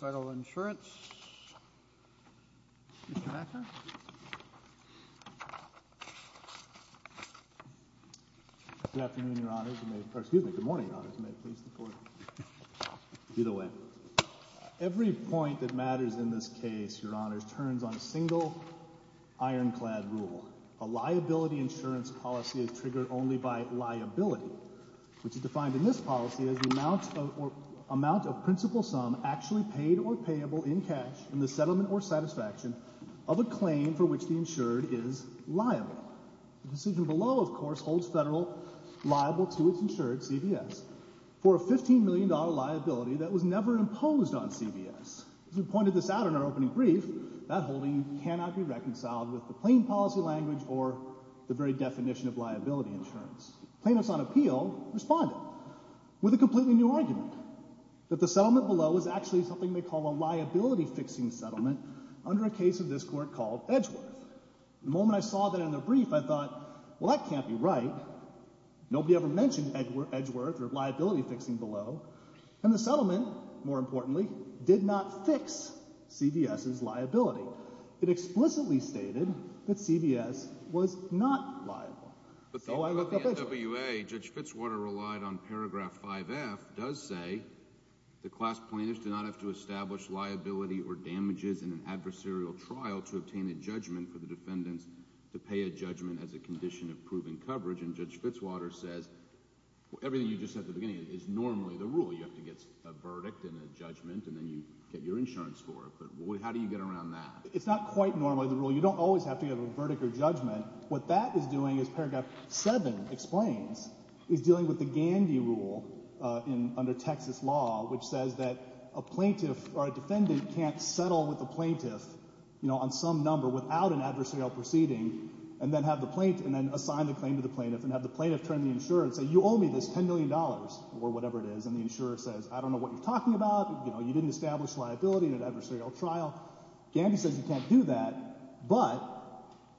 Federal Insurance, Mr. Becker. Good afternoon, Your Honors. Excuse me, good morning, Your Honors. May it please the Court. Be the way. Every point that matters in this case, Your Honors, turns on a single ironclad rule. A liability insurance policy is triggered only by liability, which is defined in this policy as the amount of principal sum actually paid or payable in cash in the settlement or satisfaction of a claim for which the insured is liable. The decision below, of course, holds federal liable to its insured, CBS, for a $15 million liability that was never imposed on CBS. As we pointed this out in our opening brief, that holding cannot be reconciled with the plain policy language or the very definition of liability insurance. Plaintiffs on appeal responded with a completely new argument, that the settlement below is actually something they call a liability-fixing settlement under a case of this Court called Edgeworth. The moment I saw that in their brief, I thought, well, that can't be right. Nobody ever mentioned Edgeworth or liability-fixing below. And the settlement, more importantly, did not fix CBS's liability. It explicitly stated that CBS was not liable. So I looked up Edgeworth. But the NWA, Judge Fitzwater relied on paragraph 5F, does say, the class plaintiffs do not have to establish liability or damages in an adversarial trial to obtain a judgment for the defendants to pay a judgment as a condition of proven coverage. And Judge Fitzwater says everything you just said at the beginning is normally the rule. You have to get a verdict and a judgment, and then you get your insurance for it. But how do you get around that? It's not quite normally the rule. You don't always have to get a verdict or judgment. What that is doing, as paragraph 7 explains, is dealing with the Gandy rule under Texas law, which says that a plaintiff or a defendant can't settle with a plaintiff on some number without an adversarial proceeding and then assign the claim to the plaintiff and have the plaintiff turn to the insurer and say, you owe me this $10 million or whatever it is. And the insurer says, I don't know what you're talking about. You didn't establish liability in an adversarial trial. Gandy says you can't do that. But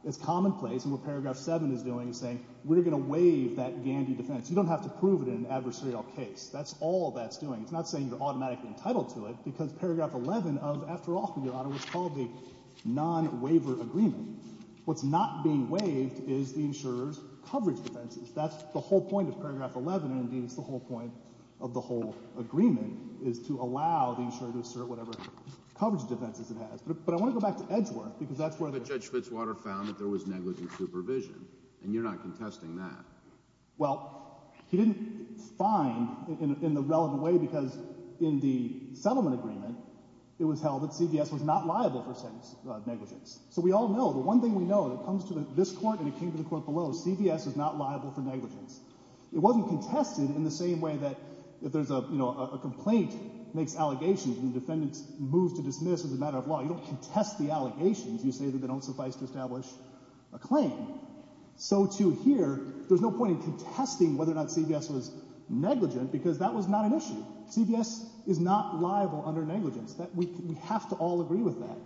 it's commonplace, and what paragraph 7 is doing is saying we're going to waive that Gandy defense. You don't have to prove it in an adversarial case. That's all that's doing. It's not saying you're automatically entitled to it because paragraph 11 of, after all, was called the non-waiver agreement. What's not being waived is the insurer's coverage defenses. That's the whole point of paragraph 11, and indeed it's the whole point of the whole agreement, is to allow the insurer to assert whatever coverage defenses it has. But I want to go back to Edgeworth because that's where the— But Judge Fitzwater found that there was negligent supervision, and you're not contesting that. Well, he didn't find in the relevant way because in the settlement agreement it was held that CVS was not liable for negligence. So we all know, the one thing we know that comes to this court and it came to the court below, CVS is not liable for negligence. It wasn't contested in the same way that if there's a complaint makes allegations and the defendant moves to dismiss as a matter of law, you don't contest the allegations. You say that they don't suffice to establish a claim. So to here, there's no point in contesting whether or not CVS was negligent because that was not an issue. CVS is not liable under negligence. We have to all agree with that.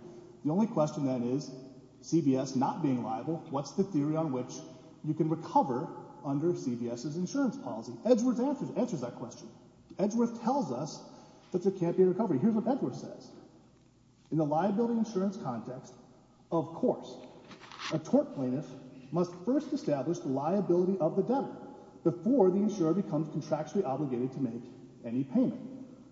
The only question then is, CVS not being liable, what's the theory on which you can recover under CVS's insurance policy? Edgeworth answers that question. Edgeworth tells us that there can't be a recovery. Here's what Edgeworth says. In the liability insurance context, of course, a tort plaintiff must first establish the liability of the debtor before the insurer becomes contractually obligated to make any payment.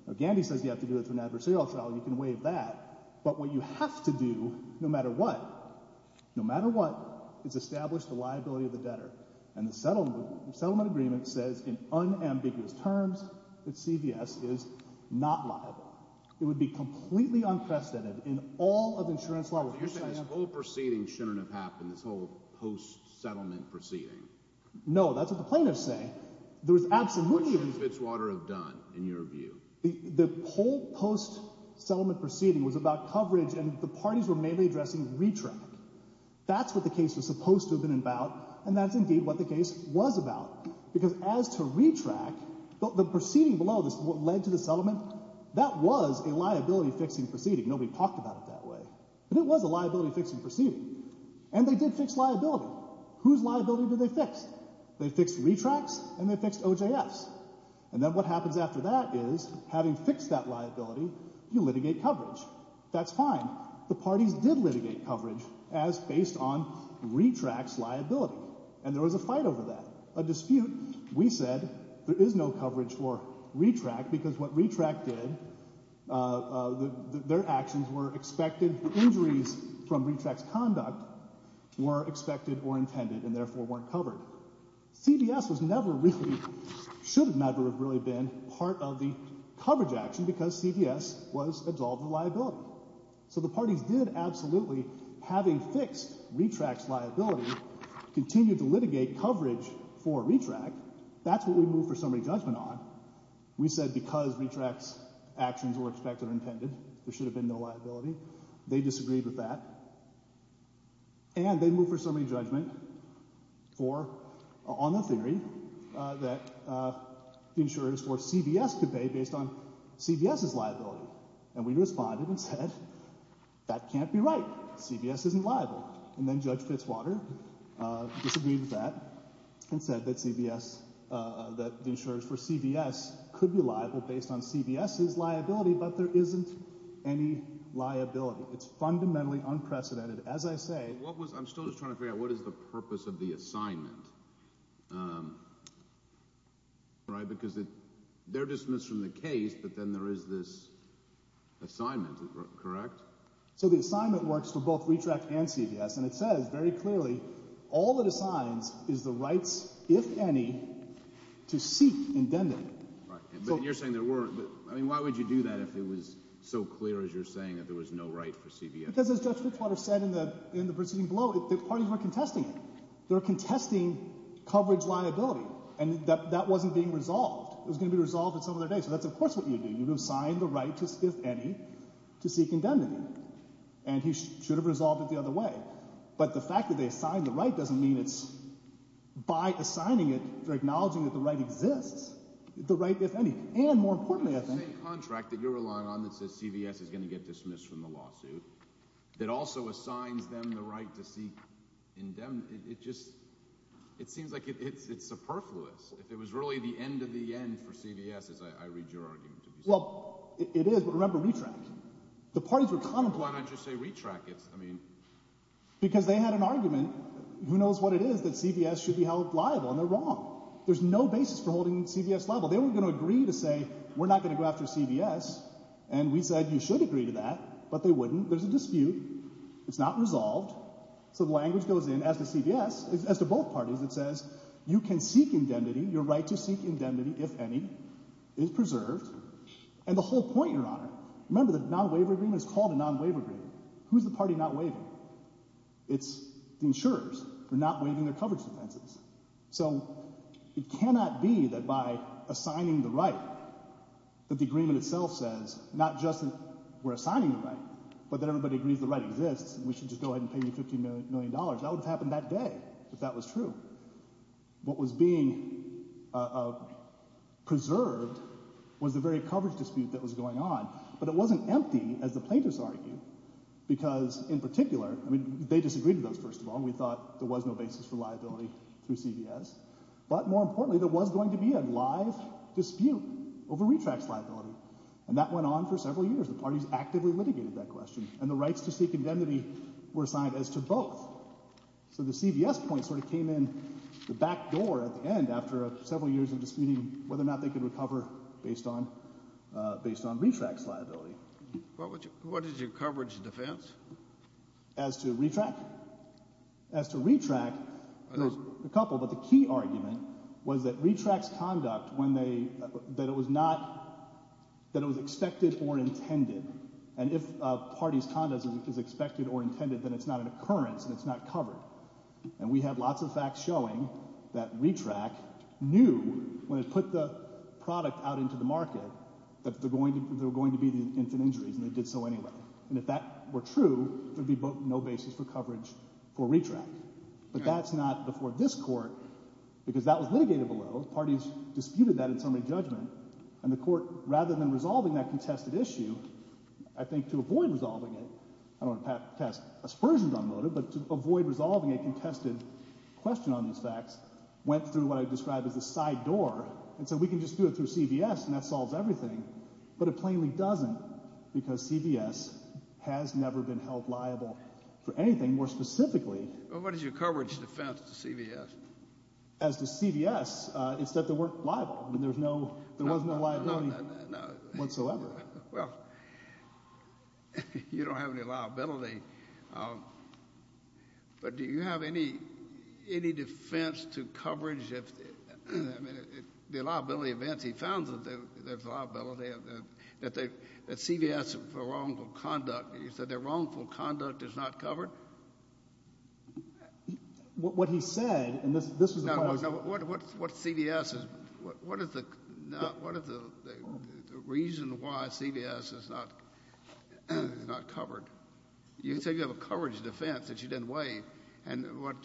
Now, Gandy says you have to do it through an adversarial trial. You can waive that. But what you have to do, no matter what, no matter what, is establish the liability of the debtor. And the settlement agreement says, in unambiguous terms, that CVS is not liable. It would be completely unprecedented in all of insurance law. So you're saying this whole proceeding shouldn't have happened, this whole post-settlement proceeding? No, that's what the plaintiffs say. What should Fitzwater have done, in your view? The whole post-settlement proceeding was about coverage, and the parties were mainly addressing retract. That's what the case was supposed to have been about, and that's indeed what the case was about. Because as to retract, the proceeding below this, what led to the settlement, that was a liability-fixing proceeding. Nobody talked about it that way. But it was a liability-fixing proceeding. And they did fix liability. Whose liability did they fix? They fixed retracts, and they fixed OJFs. And then what happens after that is, having fixed that liability, you litigate coverage. That's fine. The parties did litigate coverage as based on retract's liability. And there was a fight over that, a dispute. We said there is no coverage for retract because what retract did, their actions were expected. The injuries from retract's conduct were expected or intended and therefore weren't covered. CVS was never really, should never have really been part of the coverage action because CVS was absolved of the liability. So the parties did absolutely, having fixed retract's liability, continue to litigate coverage for retract. That's what we moved for summary judgment on. We said because retract's actions were expected or intended, there should have been no liability. They disagreed with that. And they moved for summary judgment for, on the theory, that the insurers for CVS could pay based on CVS's liability. And we responded and said, that can't be right. CVS isn't liable. And then Judge Fitzwater disagreed with that and said that CVS, that the insurers for CVS could be liable based on CVS's liability, but there isn't any liability. It's fundamentally unprecedented. I'm still just trying to figure out what is the purpose of the assignment. Because they're dismissed from the case, but then there is this assignment, correct? So the assignment works for both retract and CVS, and it says very clearly, all it assigns is the rights, if any, to seek indebted. But you're saying there weren't. Why would you do that if it was so clear as you're saying that there was no right for CVS? Because, as Judge Fitzwater said in the proceeding below, the parties weren't contesting it. They were contesting coverage liability. And that wasn't being resolved. It was going to be resolved at some other day. So that's, of course, what you would do. You would assign the right, if any, to seek indebted. And he should have resolved it the other way. But the fact that they assigned the right doesn't mean it's by assigning it, they're acknowledging that the right exists. The right, if any. And, more importantly, I think— that CVS is going to get dismissed from the lawsuit. It also assigns them the right to seek indebted. It just—it seems like it's superfluous. If it was really the end of the end for CVS, as I read your argument, it would be superfluous. Well, it is. But remember, retract. The parties were contemplating— Why don't you say retract? It's, I mean— Because they had an argument. Who knows what it is that CVS should be held liable, and they're wrong. There's no basis for holding CVS liable. They were going to agree to say, we're not going to go after CVS. And we said, you should agree to that. But they wouldn't. There's a dispute. It's not resolved. So the language goes in as to CVS—as to both parties. It says, you can seek indemnity. Your right to seek indemnity, if any, is preserved. And the whole point, Your Honor— Remember, the non-waiver agreement is called a non-waiver agreement. Who's the party not waiving? It's the insurers. They're not waiving their coverage defenses. So it cannot be that by assigning the right that the agreement itself says not just that we're assigning the right, but that everybody agrees the right exists and we should just go ahead and pay you $15 million. That would have happened that day if that was true. What was being preserved was the very coverage dispute that was going on. But it wasn't empty, as the plaintiffs argue, because in particular— I mean, they disagreed with us, first of all. We thought there was no basis for liability through CVS. But more importantly, there was going to be a live dispute over retracts liability. And that went on for several years. The parties actively litigated that question. And the rights to seek indemnity were assigned as to both. So the CVS point sort of came in the back door at the end after several years of disputing whether or not they could recover based on retracts liability. What is your coverage defense? As to retract? As to retract, there was a couple. But the key argument was that retracts conduct when they—that it was not—that it was expected or intended. And if a party's conduct is expected or intended, then it's not an occurrence and it's not covered. And we have lots of facts showing that retract knew when it put the product out into the market that there were going to be infant injuries, and it did so anyway. And if that were true, there would be no basis for coverage for retract. But that's not before this court because that was litigated below. Parties disputed that in summary judgment. And the court, rather than resolving that contested issue, I think to avoid resolving it— I don't want to pass aspersions on motive, but to avoid resolving a contested question on these facts, went through what I describe as a side door and said we can just do it through CVS and that solves everything. But it plainly doesn't because CVS has never been held liable for anything. More specifically— Well, what is your coverage defense to CVS? As to CVS, it's that they weren't liable. I mean, there's no—there was no liability whatsoever. Well, you don't have any liability, but do you have any defense to coverage? I mean, the liability events, he found that there's liability, that CVS for wrongful conduct, you said their wrongful conduct is not covered? What he said, and this was a question— No, no. What's CVS? What is the reason why CVS is not covered? You said you have a coverage defense that you didn't weigh. And what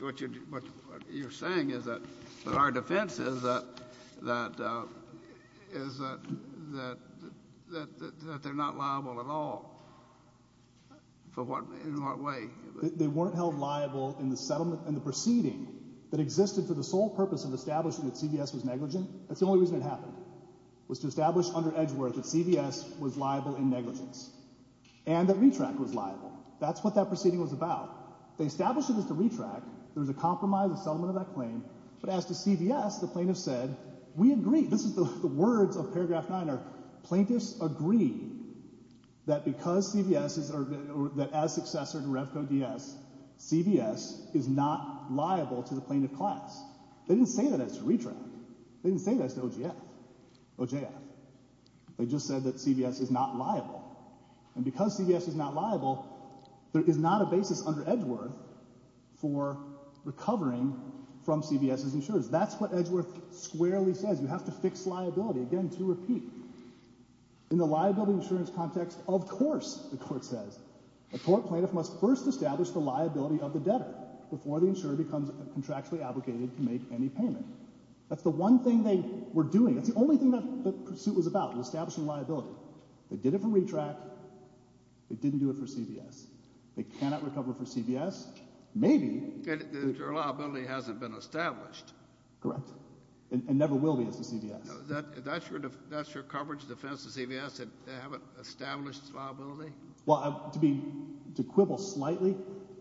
you're saying is that our defense is that they're not liable at all. In what way? They weren't held liable in the settlement and the proceeding that existed for the sole purpose of establishing that CVS was negligent. That's the only reason it happened, was to establish under Edgeworth that CVS was liable in negligence and that RETRACT was liable. That's what that proceeding was about. They established it as the RETRACT. There was a compromise in the settlement of that claim. But as to CVS, the plaintiffs said, we agree. This is the words of paragraph 9. Our plaintiffs agree that because CVS is—or that as successor to Revco DS, CVS is not liable to the plaintiff class. They didn't say that as to RETRACT. They didn't say that as to OJF. They just said that CVS is not liable. And because CVS is not liable, there is not a basis under Edgeworth for recovering from CVS's insurers. That's what Edgeworth squarely says. You have to fix liability. Again, to repeat, in the liability insurance context, of course, the court says, a court plaintiff must first establish the liability of the debtor before the insurer becomes contractually obligated to make any payment. That's the one thing they were doing. That's the only thing that the pursuit was about, was establishing liability. They did it for RETRACT. They didn't do it for CVS. They cannot recover for CVS. Maybe— Your liability hasn't been established. Correct. And never will be as to CVS. That's your coverage defense to CVS, that they haven't established its liability? Well, to be—to quibble slightly,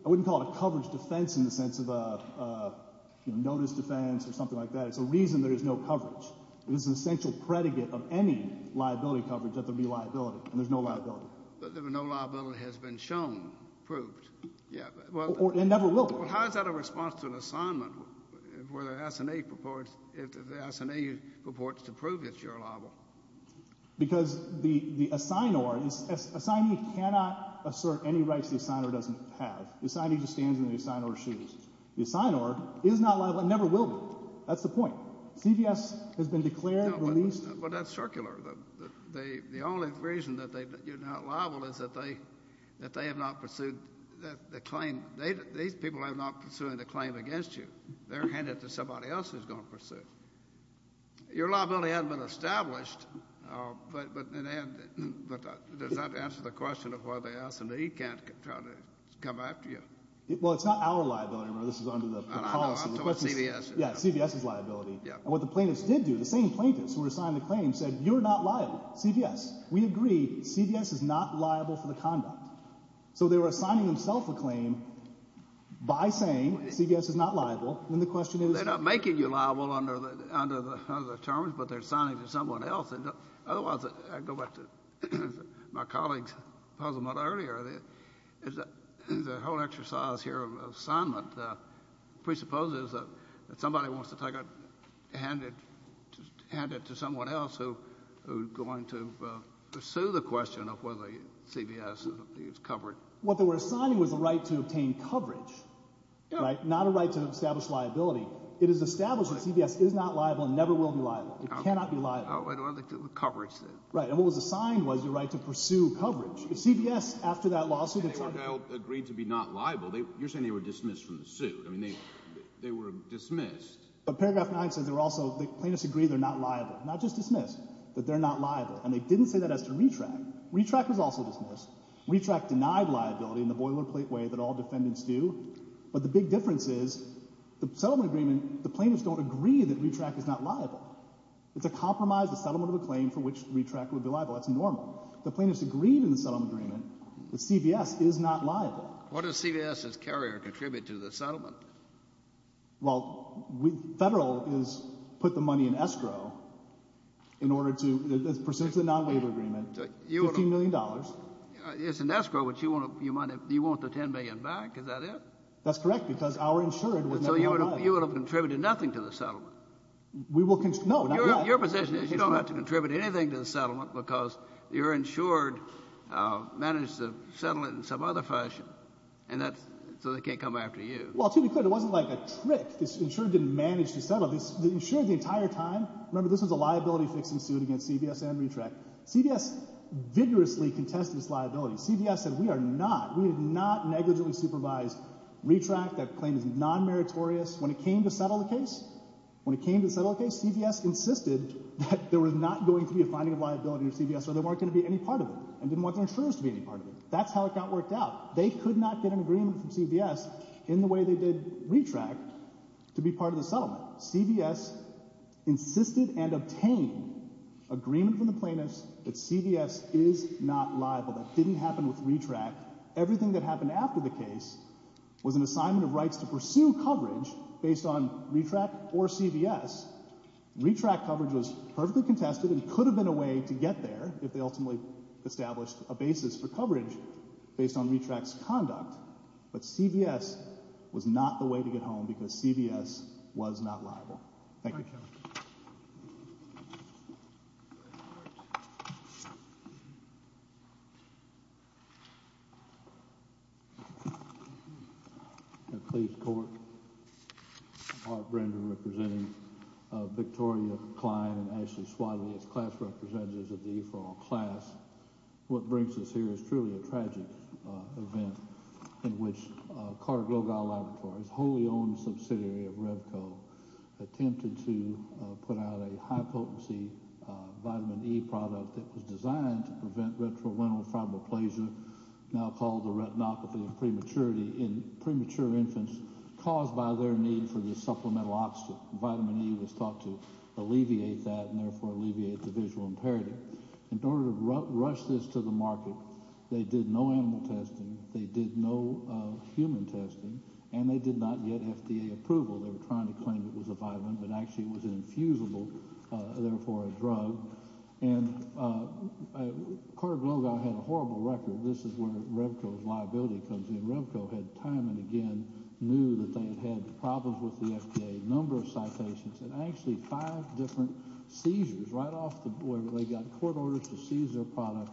I wouldn't call it a coverage defense in the sense of a notice defense or something like that. It's a reason there is no coverage. It is an essential predicate of any liability coverage that there be liability, and there's no liability. But no liability has been shown, proved. Yeah. Or it never will be. Well, how is that a response to an assignment where the SNA purports—the SNA purports to prove that you're liable? Because the assignor is—assignee cannot assert any rights the assignor doesn't have. The assignee just stands in the assignor's shoes. The assignor is not liable and never will be. That's the point. CVS has been declared, released— No, but that's circular. The only reason that you're not liable is that they have not pursued the claim. These people are not pursuing the claim against you. They're handed to somebody else who's going to pursue it. Your liability hasn't been established, but does that answer the question of why the assignee can't try to come after you? Well, it's not our liability. Remember, this is under the policy. I'm talking about CVS. Yes, CVS's liability. And what the plaintiffs did do, the same plaintiffs who were assigned the claim said you're not liable, CVS. We agree. CVS is not liable for the conduct. So they were assigning themselves a claim by saying CVS is not liable, and the question is— They're not making you liable under the terms, but they're assigning to someone else. Otherwise, I go back to my colleague's puzzlement earlier. The whole exercise here of assignment presupposes that somebody wants to hand it to someone else who's going to pursue the question of whether CVS is covered. What they were assigning was a right to obtain coverage, not a right to establish liability. It is established that CVS is not liable and never will be liable. It cannot be liable. Right, and what was assigned was the right to pursue coverage. If CVS, after that lawsuit— They agreed to be not liable. You're saying they were dismissed from the suit. I mean, they were dismissed. But paragraph 9 says they're also—the plaintiffs agree they're not liable. Not just dismissed, that they're not liable. And they didn't say that as to RETRACT. RETRACT was also dismissed. RETRACT denied liability in the boilerplate way that all defendants do. But the big difference is the settlement agreement, the plaintiffs don't agree that RETRACT is not liable. It's a compromise, a settlement of a claim for which RETRACT would be liable. That's normal. The plaintiffs agreed in the settlement agreement that CVS is not liable. What does CVS as carrier contribute to the settlement? Well, Federal has put the money in escrow in order to—percentage of the non-waiver agreement, $15 million. It's in escrow, but you want the $10 million back? Is that it? That's correct, because our insured— So you would have contributed nothing to the settlement? We will—no, not yet. Your position is you don't have to contribute anything to the settlement because your insured managed to settle it in some other fashion, so they can't come after you. Well, to be clear, it wasn't like a trick. The insured didn't manage to settle. The insured the entire time—remember, this was a liability-fixing suit against CVS and RETRACT. CVS vigorously contested its liability. CVS said we are not—we did not negligently supervise RETRACT. That claim is non-meritorious. When it came to settle the case, when it came to settle the case, CVS insisted that there was not going to be a finding of liability under CVS or they weren't going to be any part of it and didn't want their insurers to be any part of it. That's how it got worked out. They could not get an agreement from CVS in the way they did RETRACT to be part of the settlement. CVS insisted and obtained agreement from the plaintiffs that CVS is not liable. That didn't happen with RETRACT. Everything that happened after the case was an assignment of rights to pursue coverage based on RETRACT or CVS. RETRACT coverage was perfectly contested and could have been a way to get there if they ultimately established a basis for coverage based on RETRACT's conduct, but CVS was not the way to get home because CVS was not liable. Thank you. Please court. Art Brender representing Victoria Klein and Ashley Swadley as class representatives of the E-For-All class. What brings us here is truly a tragic event in which Carter Global Laboratories, wholly owned subsidiary of Revco, attempted to put out a high-potency vitamin E product that was designed to prevent retrorenal fibroplasia, now called the retinopathy in premature infants, caused by their need for this supplemental oxygen. Vitamin E was thought to alleviate that and therefore alleviate the visual impairment. In order to rush this to the market, they did no animal testing, they did no human testing, and they did not get FDA approval. They were trying to claim it was a vitamin, but actually it was an infusible, therefore a drug. And Carter Global had a horrible record. This is where Revco's liability comes in. Revco had time and again knew that they had had problems with the FDA, a number of citations, and actually five different seizures right off the board. They got court orders to seize their product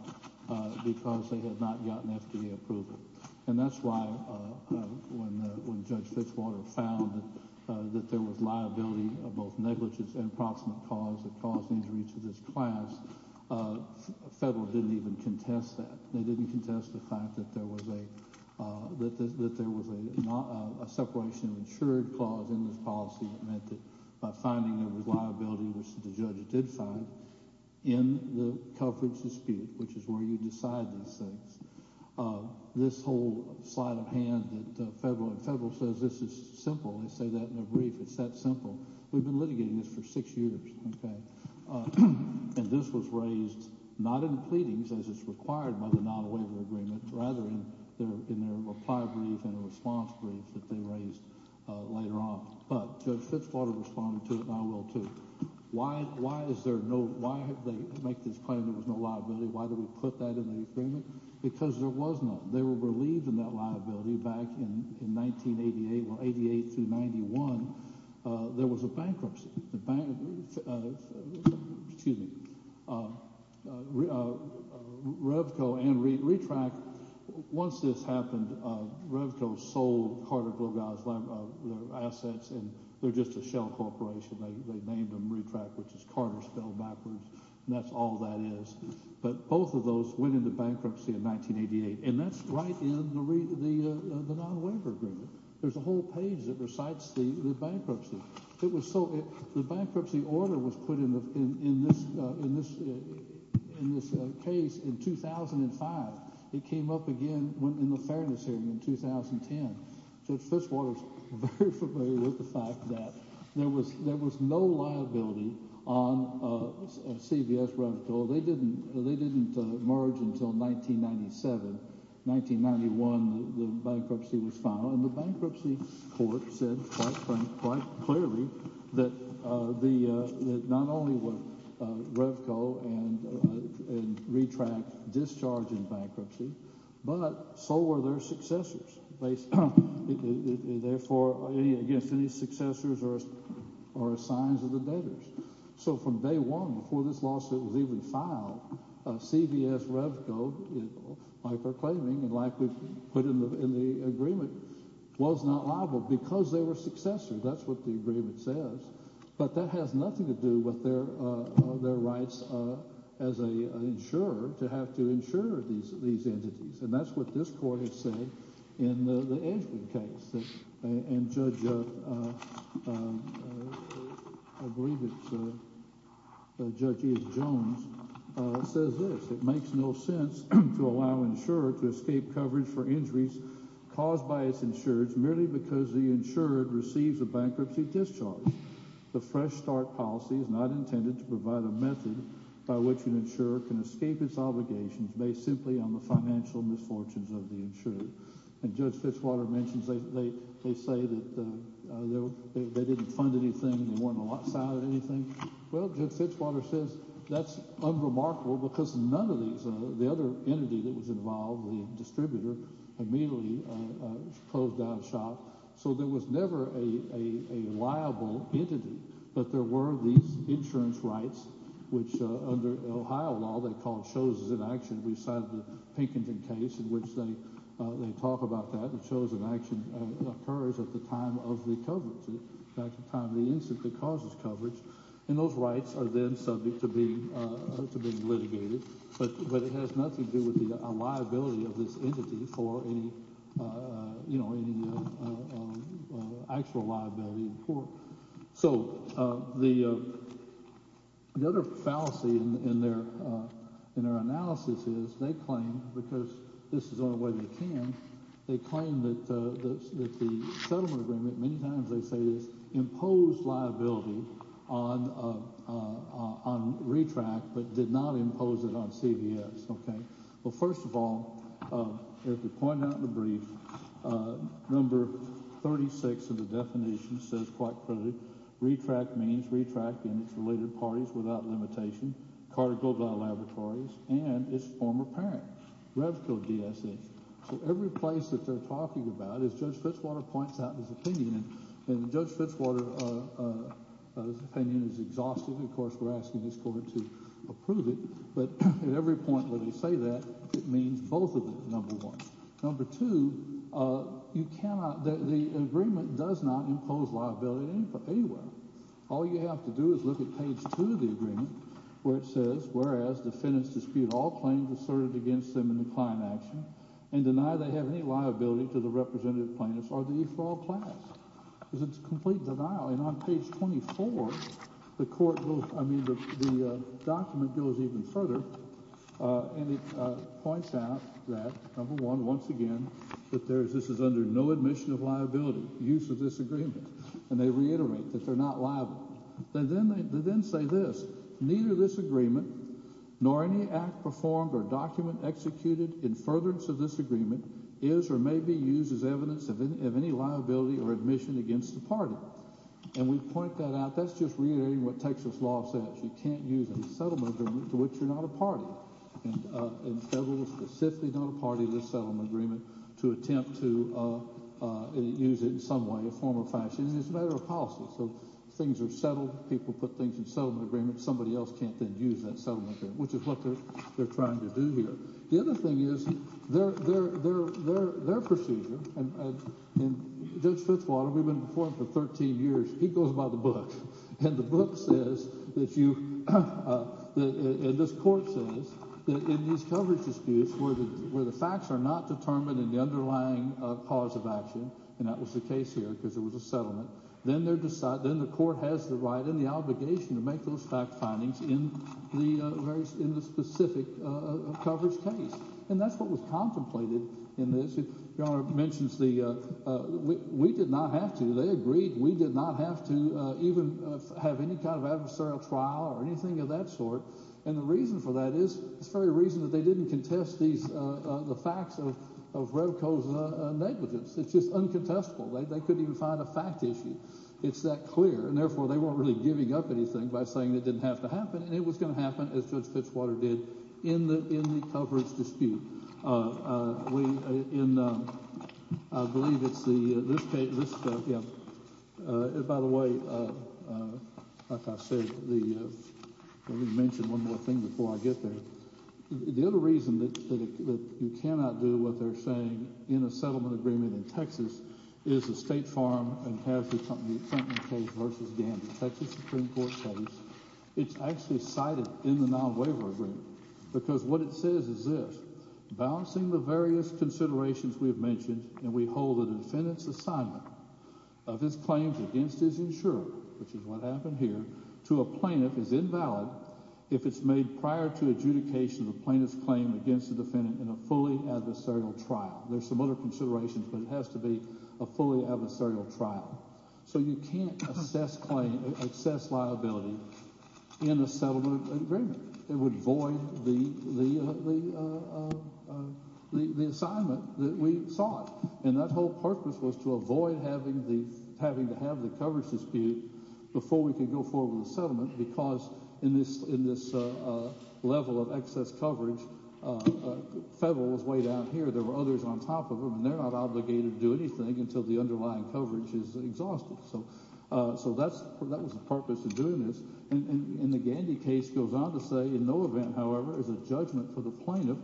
because they had not gotten FDA approval. And that's why when Judge Fitchwater found that there was liability of both negligence and approximate cause that caused injury to this class, Federal didn't even contest that. They didn't contest the fact that there was a separation of insured clause in this policy that meant that by finding there was liability, which the judge did find, in the coverage dispute, which is where you decide these things, this whole sleight of hand that Federal says, this is simple, they say that in a brief, it's that simple. We've been litigating this for six years. And this was raised not in pleadings, as is required by the non-waiver agreement, rather in their reply brief and a response brief that they raised later on. But Judge Fitchwater responded to it, and I will too. Why is there no—why did they make this claim there was no liability? Why did we put that in the agreement? Because there was none. They were relieved of that liability back in 1988. Well, 88 through 91, there was a bankruptcy. The bank—excuse me, Revco and Retrac, once this happened, Revco sold Carter-Glogau's assets, and they're just a shell corporation. They named them Retrac, which is Carter spelled backwards, and that's all that is. But both of those went into bankruptcy in 1988, and that's right in the non-waiver agreement. There's a whole page that recites the bankruptcy. It was so—the bankruptcy order was put in this case in 2005. It came up again in the fairness hearing in 2010. Judge Fitchwater is very familiar with the fact that there was no liability on CVS, Revco. They didn't merge until 1997. In 1991, the bankruptcy was filed, and the bankruptcy court said quite clearly that not only was Revco and Retrac discharging bankruptcy, but so were their successors. Therefore, any successors are a sign of the debtors. So from day one, before this lawsuit was even filed, CVS, Revco, by proclaiming and like we put in the agreement, was not liable because they were successors. That's what the agreement says. But that has nothing to do with their rights as an insurer to have to insure these entities, and that's what this court has said in the Edgman case. And Judge—I believe it's Judge Ian Jones—says this. It makes no sense to allow an insurer to escape coverage for injuries caused by its insurers merely because the insurer receives a bankruptcy discharge. The fresh start policy is not intended to provide a method by which an insurer can escape its obligations based simply on the financial misfortunes of the insurer. And Judge Fitzwater mentions they say that they didn't fund anything, they weren't a lot side of anything. Well, Judge Fitzwater says that's unremarkable because none of these—the other entity that was involved, the distributor, immediately closed down the shop. So there was never a liable entity. But there were these insurance rights, which under Ohio law they call choses in action. We cited the Pinkerton case in which they talk about that. The chose in action occurs at the time of the coverage, at the time of the incident that causes coverage, and those rights are then subject to being litigated. But it has nothing to do with the liability of this entity for any actual liability in court. So the other fallacy in their analysis is they claim, because this is the only way they can, they claim that the settlement agreement—many times they say this—imposed liability on RETRACT but did not impose it on CVS. Well, first of all, as we pointed out in the brief, number 36 of the definition says quite clearly RETRACT means RETRACT and its related parties without limitation, Carter Global Laboratories, and its former parent, Revco DSH. So every place that they're talking about is—Judge Fitzwater points out his opinion, and Judge Fitzwater's opinion is exhaustive. Of course, we're asking this court to approve it, but at every point where they say that, it means both of them, number one. Number two, you cannot—the agreement does not impose liability anywhere. All you have to do is look at page two of the agreement where it says, whereas defendants dispute all claims asserted against them in the client action and deny they have any liability to the representative plaintiffs or the e-fraud class. There's a complete denial, and on page 24, the court will—I mean, the document goes even further, and it points out that, number one, once again, that there's—this is under no admission of liability, use of this agreement, and they reiterate that they're not liable. They then say this. Neither this agreement nor any act performed or document executed in furtherance of this agreement is or may be used as evidence of any liability or admission against the party. And we point that out. That's just reiterating what Texas law says. You can't use a settlement agreement to which you're not a party, and the federal specifically not a party to this settlement agreement to attempt to use it in some way, a form or fashion, and it's a matter of policy. So things are settled. People put things in settlement agreements. Somebody else can't then use that settlement agreement, which is what they're trying to do here. The other thing is their procedure, and Judge Fitzwater—we've been before him for 13 years—he goes by the book, and the book says that you—and this court says that in these coverage disputes where the facts are not determined in the underlying cause of action—and that was the case here because it was a settlement— then the court has the right and the obligation to make those fact findings in the specific coverage case, and that's what was contemplated in this. Your Honor mentions the—we did not have to. They agreed we did not have to even have any kind of adversarial trial or anything of that sort. And the reason for that is—it's the very reason that they didn't contest these—the facts of Revko's negligence. It's just uncontestable. They couldn't even find a fact issue. It's that clear, and therefore they weren't really giving up anything by saying it didn't have to happen, and it was going to happen, as Judge Fitzwater did, in the coverage dispute. We—in—I believe it's the—this case—by the way, like I said, the—let me mention one more thing before I get there. The other reason that you cannot do what they're saying in a settlement agreement in Texas is the State Farm and Casualty Accounting case v. Gamby, a Texas Supreme Court case. It's actually cited in the non-waiver agreement because what it says is this. There's some other considerations, but it has to be a fully adversarial trial. So you can't assess claim—access liability in a settlement agreement. It would void the assignment that we sought, and that whole purpose was to avoid having the—having to have the coverage dispute before we could go forward with the settlement because in this level of excess coverage, federal was way down here. There were others on top of them, and they're not obligated to do anything until the underlying coverage is exhausted. So that's—that was the purpose of doing this, and the Gamby case goes on to say, in no event, however, is a judgment for the plaintiff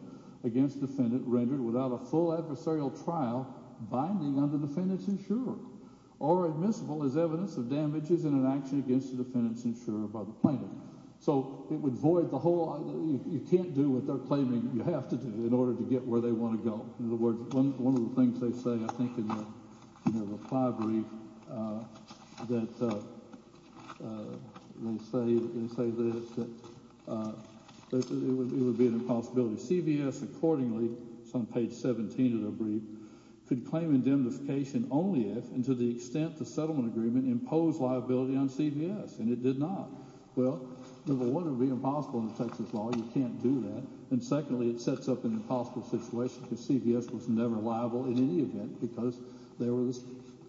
against defendant rendered without a full adversarial trial binding on the defendant's insurer or admissible as evidence of damages in an action against the defendant's insurer by the plaintiff. So it would void the whole—you can't do what they're claiming you have to do in order to get where they want to go. In other words, one of the things they say, I think, in their reply brief, that—they say this, that it would be an impossibility. Well, number one, it would be impossible under Texas law. You can't do that. And secondly, it sets up an impossible situation because CVS was never liable in any event because they were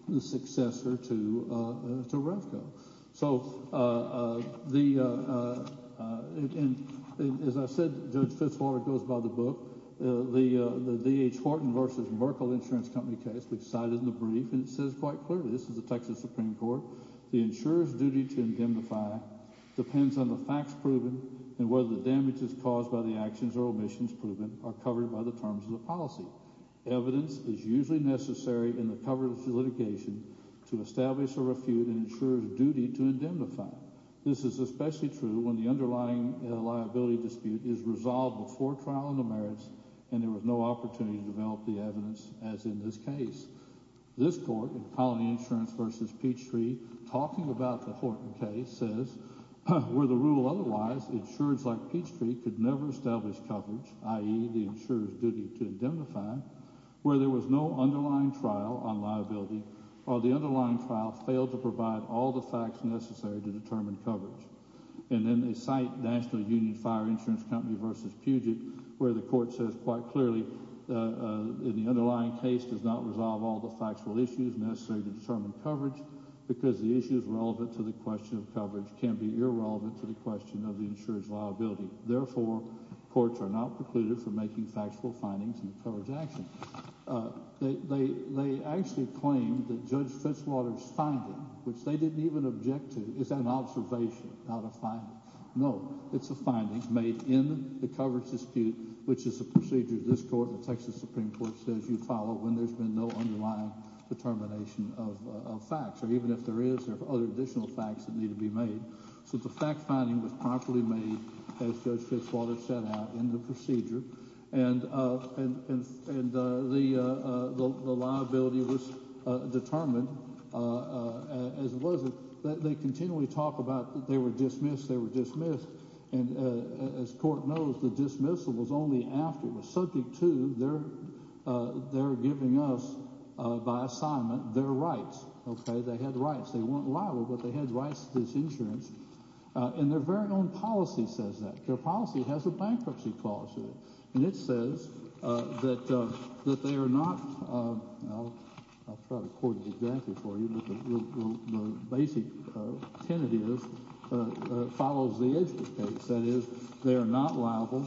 the successor to Revco. So the—and as I said, Judge Fitzwater goes by the book. The D.H. Horton v. Merkle Insurance Company case we cited in the brief, and it says quite clearly—this is the Texas Supreme Court—the insurer's duty to indemnify depends on the facts proven and whether the damages caused by the actions or omissions proven are covered by the terms of the policy. Evidence is usually necessary in the coverage of litigation to establish a refute an insurer's duty to indemnify. This is especially true when the underlying liability dispute is resolved before trial in the merits and there is no opportunity to develop the evidence, as in this case. This court, in Colony Insurance v. Peachtree, talking about the Horton case, says, where the rule otherwise, insurers like Peachtree could never establish coverage, i.e., the insurer's duty to indemnify, where there was no underlying trial on liability or the underlying trial failed to provide all the facts necessary to determine coverage. And then they cite National Union Fire Insurance Company v. Puget, where the court says quite clearly that the underlying case does not resolve all the factual issues necessary to determine coverage because the issues relevant to the question of coverage can be irrelevant to the question of the insurer's liability. Therefore, courts are not precluded from making factual findings in the coverage action. They actually claim that Judge Fitzwater's finding, which they didn't even object to, is an observation, not a finding. No, it's a finding made in the coverage dispute, which is a procedure this court, the Texas Supreme Court, says you follow when there's been no underlying determination of facts, or even if there is, there are other additional facts that need to be made. So the fact finding was properly made, as Judge Fitzwater set out in the procedure, and the liability was determined as it was. They continually talk about they were dismissed, they were dismissed, and as court knows, the dismissal was only after it was subject to their giving us, by assignment, their rights. They had rights. They weren't liable, but they had rights to this insurance, and their very own policy says that. Their policy has a bankruptcy clause in it, and it says that they are not—I'll try to quote it exactly for you, but the basic tenet is—follows the edge of the case. That is, they are not liable.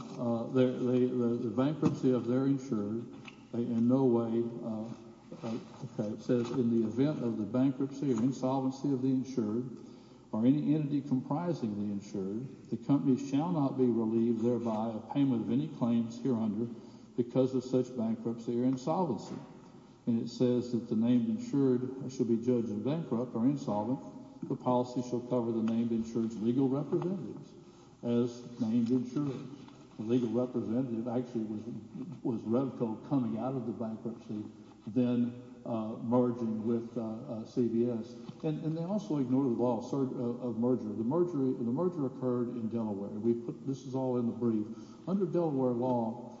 The bankruptcy of their insurance, in no way—it says, in the event of the bankruptcy or insolvency of the insured, or any entity comprising the insured, the company shall not be relieved thereby of payment of any claims hereunder because of such bankruptcy or insolvency. And it says that the named insured shall be judged as bankrupt or insolvent. The policy shall cover the named insured's legal representatives as named insured. The legal representative actually was Revco coming out of the bankruptcy, then merging with CVS, and they also ignored the law of merger. The merger occurred in Delaware. This is all in the brief. Under Delaware law,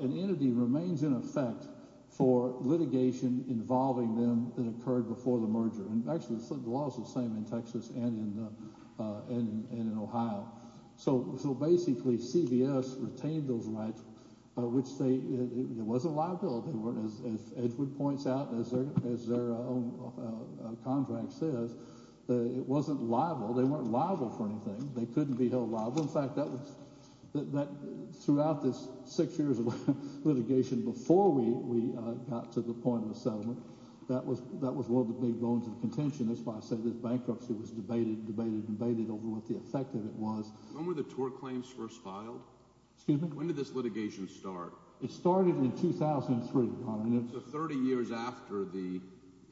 an entity remains in effect for litigation involving them that occurred before the merger, and actually the law is the same in Texas and in Ohio. So basically CVS retained those rights, which they—it wasn't liable. As Edgewood points out, as their own contract says, it wasn't liable. They weren't liable for anything. They couldn't be held liable. In fact, throughout this six years of litigation, before we got to the point of settlement, that was one of the big bones of contention. That's why I say this bankruptcy was debated and debated and debated over what the effect of it was. When were the TOR claims first filed? Excuse me? When did this litigation start? It started in 2003. So 30 years after the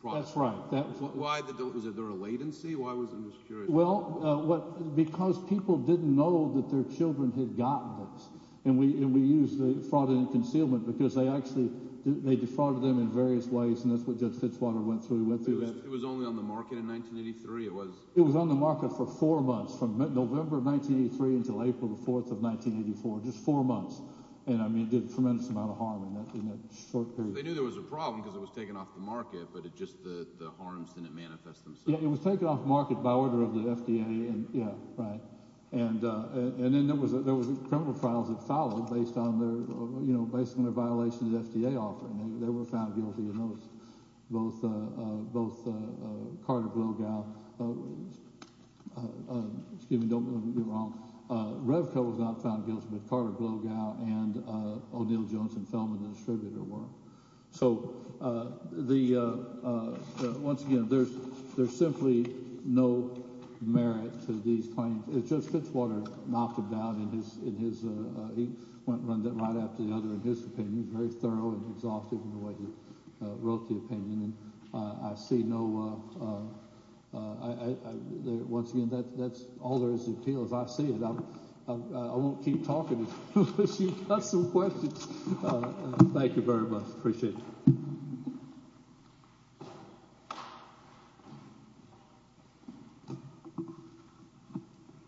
project. That's right. Was there a latency? I was curious. Well, because people didn't know that their children had gotten this, and we used fraud and concealment because they actually—they defrauded them in various ways, and that's what Judge Fitzwater went through. It was only on the market in 1983. It was— It was on the market for four months, from November of 1983 until April the 4th of 1984, just four months, and it did a tremendous amount of harm in that short period. They knew there was a problem because it was taken off the market, but just the harms didn't manifest themselves. Yeah, it was taken off the market by order of the FDA. Yeah, right. And then there were criminal files that followed based on their violations of the FDA offering. They were found guilty in those, both Carter Blogau—excuse me, don't get me wrong. Revco was not found guilty, but Carter Blogau and O'Neill Jones and Feldman, the distributor, were. So the—once again, there's simply no merit to these claims. Judge Fitzwater knocked them down in his—he went and run that right after the other in his opinion, very thorough and exhaustive in the way he wrote the opinion. And I see no—once again, that's all there is to the appeal, as I see it. I won't keep talking unless you've got some questions. Thank you very much. Appreciate it.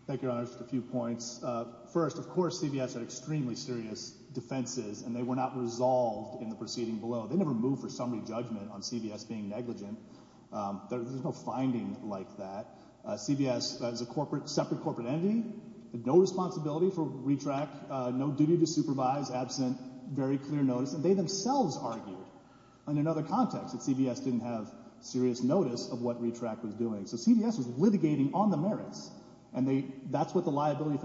Thank you, Your Honor, just a few points. First, of course, CBS had extremely serious defenses, and they were not resolved in the proceeding below. They never moved for summary judgment on CBS being negligent. There's no finding like that. CBS is a separate corporate entity, had no responsibility for RETRAC, no duty to supervise, absent, very clear notice. And they themselves argued in another context that CBS didn't have serious notice of what RETRAC was doing. So CBS was litigating on the merits, and that's what the liability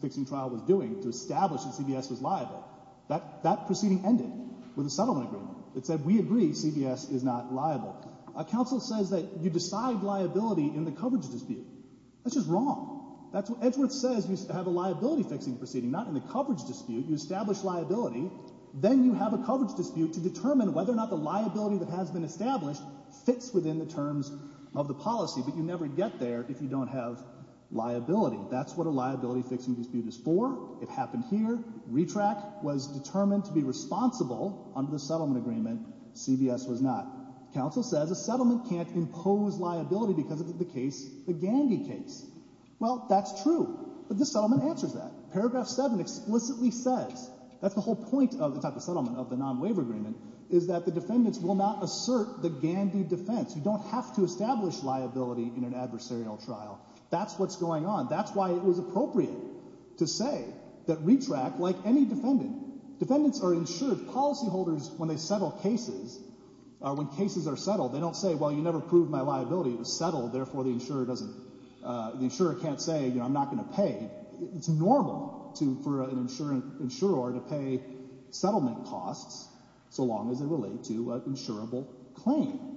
fixing trial was doing, to establish that CBS was liable. That proceeding ended with a settlement agreement that said, we agree CBS is not liable. A counsel says that you decide liability in the coverage dispute. That's just wrong. That's what—Edgeworth says you have a liability fixing proceeding, not in the coverage dispute. You establish liability. Then you have a coverage dispute to determine whether or not the liability that has been established fits within the terms of the policy. But you never get there if you don't have liability. That's what a liability fixing dispute is for. It happened here. RETRAC was determined to be responsible under the settlement agreement. CBS was not. Counsel says a settlement can't impose liability because of the case, the Gandhi case. Well, that's true. But this settlement answers that. Paragraph 7 explicitly says, that's the whole point of the type of settlement, of the non-waiver agreement, is that the defendants will not assert the Gandhi defense. You don't have to establish liability in an adversarial trial. That's what's going on. That's why it was appropriate to say that RETRAC, like any defendant, defendants are insured. Policyholders, when they settle cases, when cases are settled, they don't say, well, you never proved my liability. It was settled. Therefore, the insurer can't say, you know, I'm not going to pay. It's normal for an insurer to pay settlement costs so long as they relate to an insurable claim.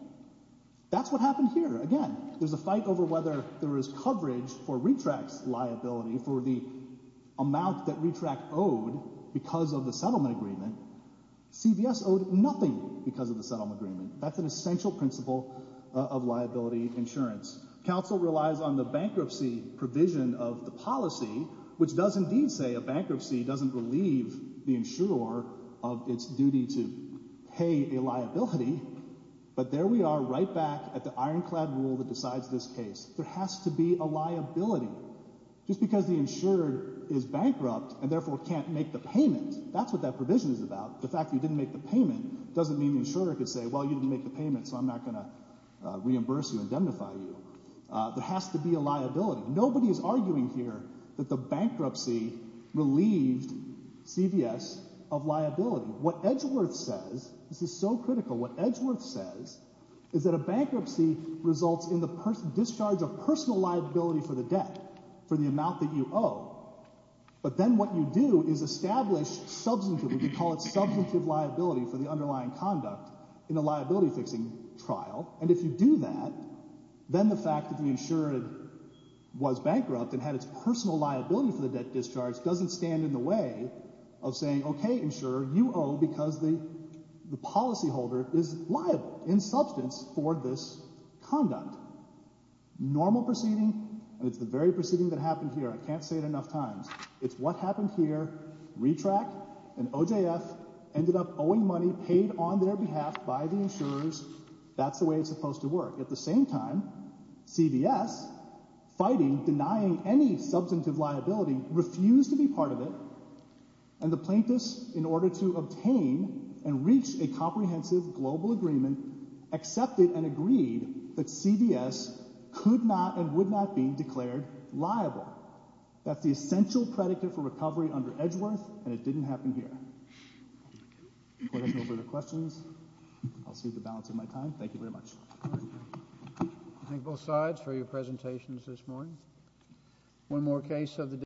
That's what happened here. Again, there's a fight over whether there is coverage for RETRAC's liability, for the amount that RETRAC owed because of the settlement agreement. CBS owed nothing because of the settlement agreement. That's an essential principle of liability insurance. Counsel relies on the bankruptcy provision of the policy, which does indeed say a bankruptcy doesn't relieve the insurer of its duty to pay a liability. But there we are right back at the ironclad rule that decides this case. There has to be a liability. Just because the insurer is bankrupt and therefore can't make the payment, that's what that provision is about. The fact that you didn't make the payment doesn't mean the insurer can say, well, you didn't make the payment, so I'm not going to reimburse you, indemnify you. There has to be a liability. Nobody is arguing here that the bankruptcy relieved CBS of liability. What Edgeworth says, this is so critical, what Edgeworth says is that a bankruptcy results in the discharge of personal liability for the debt, for the amount that you owe. But then what you do is establish substantive, we can call it substantive liability for the underlying conduct in a liability-fixing trial. And if you do that, then the fact that the insurer was bankrupt and had its personal liability for the debt discharged doesn't stand in the way of saying, okay, insurer, you owe because the policyholder is liable in substance for this conduct. Normal proceeding, and it's the very proceeding that happened here, I can't say it enough times, it's what happened here, RETRAC and OJF ended up owing money paid on their behalf by the insurers. That's the way it's supposed to work. At the same time, CBS, fighting, denying any substantive liability, refused to be part of it, and the plaintiffs, in order to obtain and reach a comprehensive global agreement, accepted and agreed that CBS could not and would not be declared liable. That's the essential predicate for recovery under Edgeworth, and it didn't happen here. If there are no further questions, I'll cede the balance of my time. Thank you very much. Thank you. I thank both sides for your presentations this morning. One more case of the day.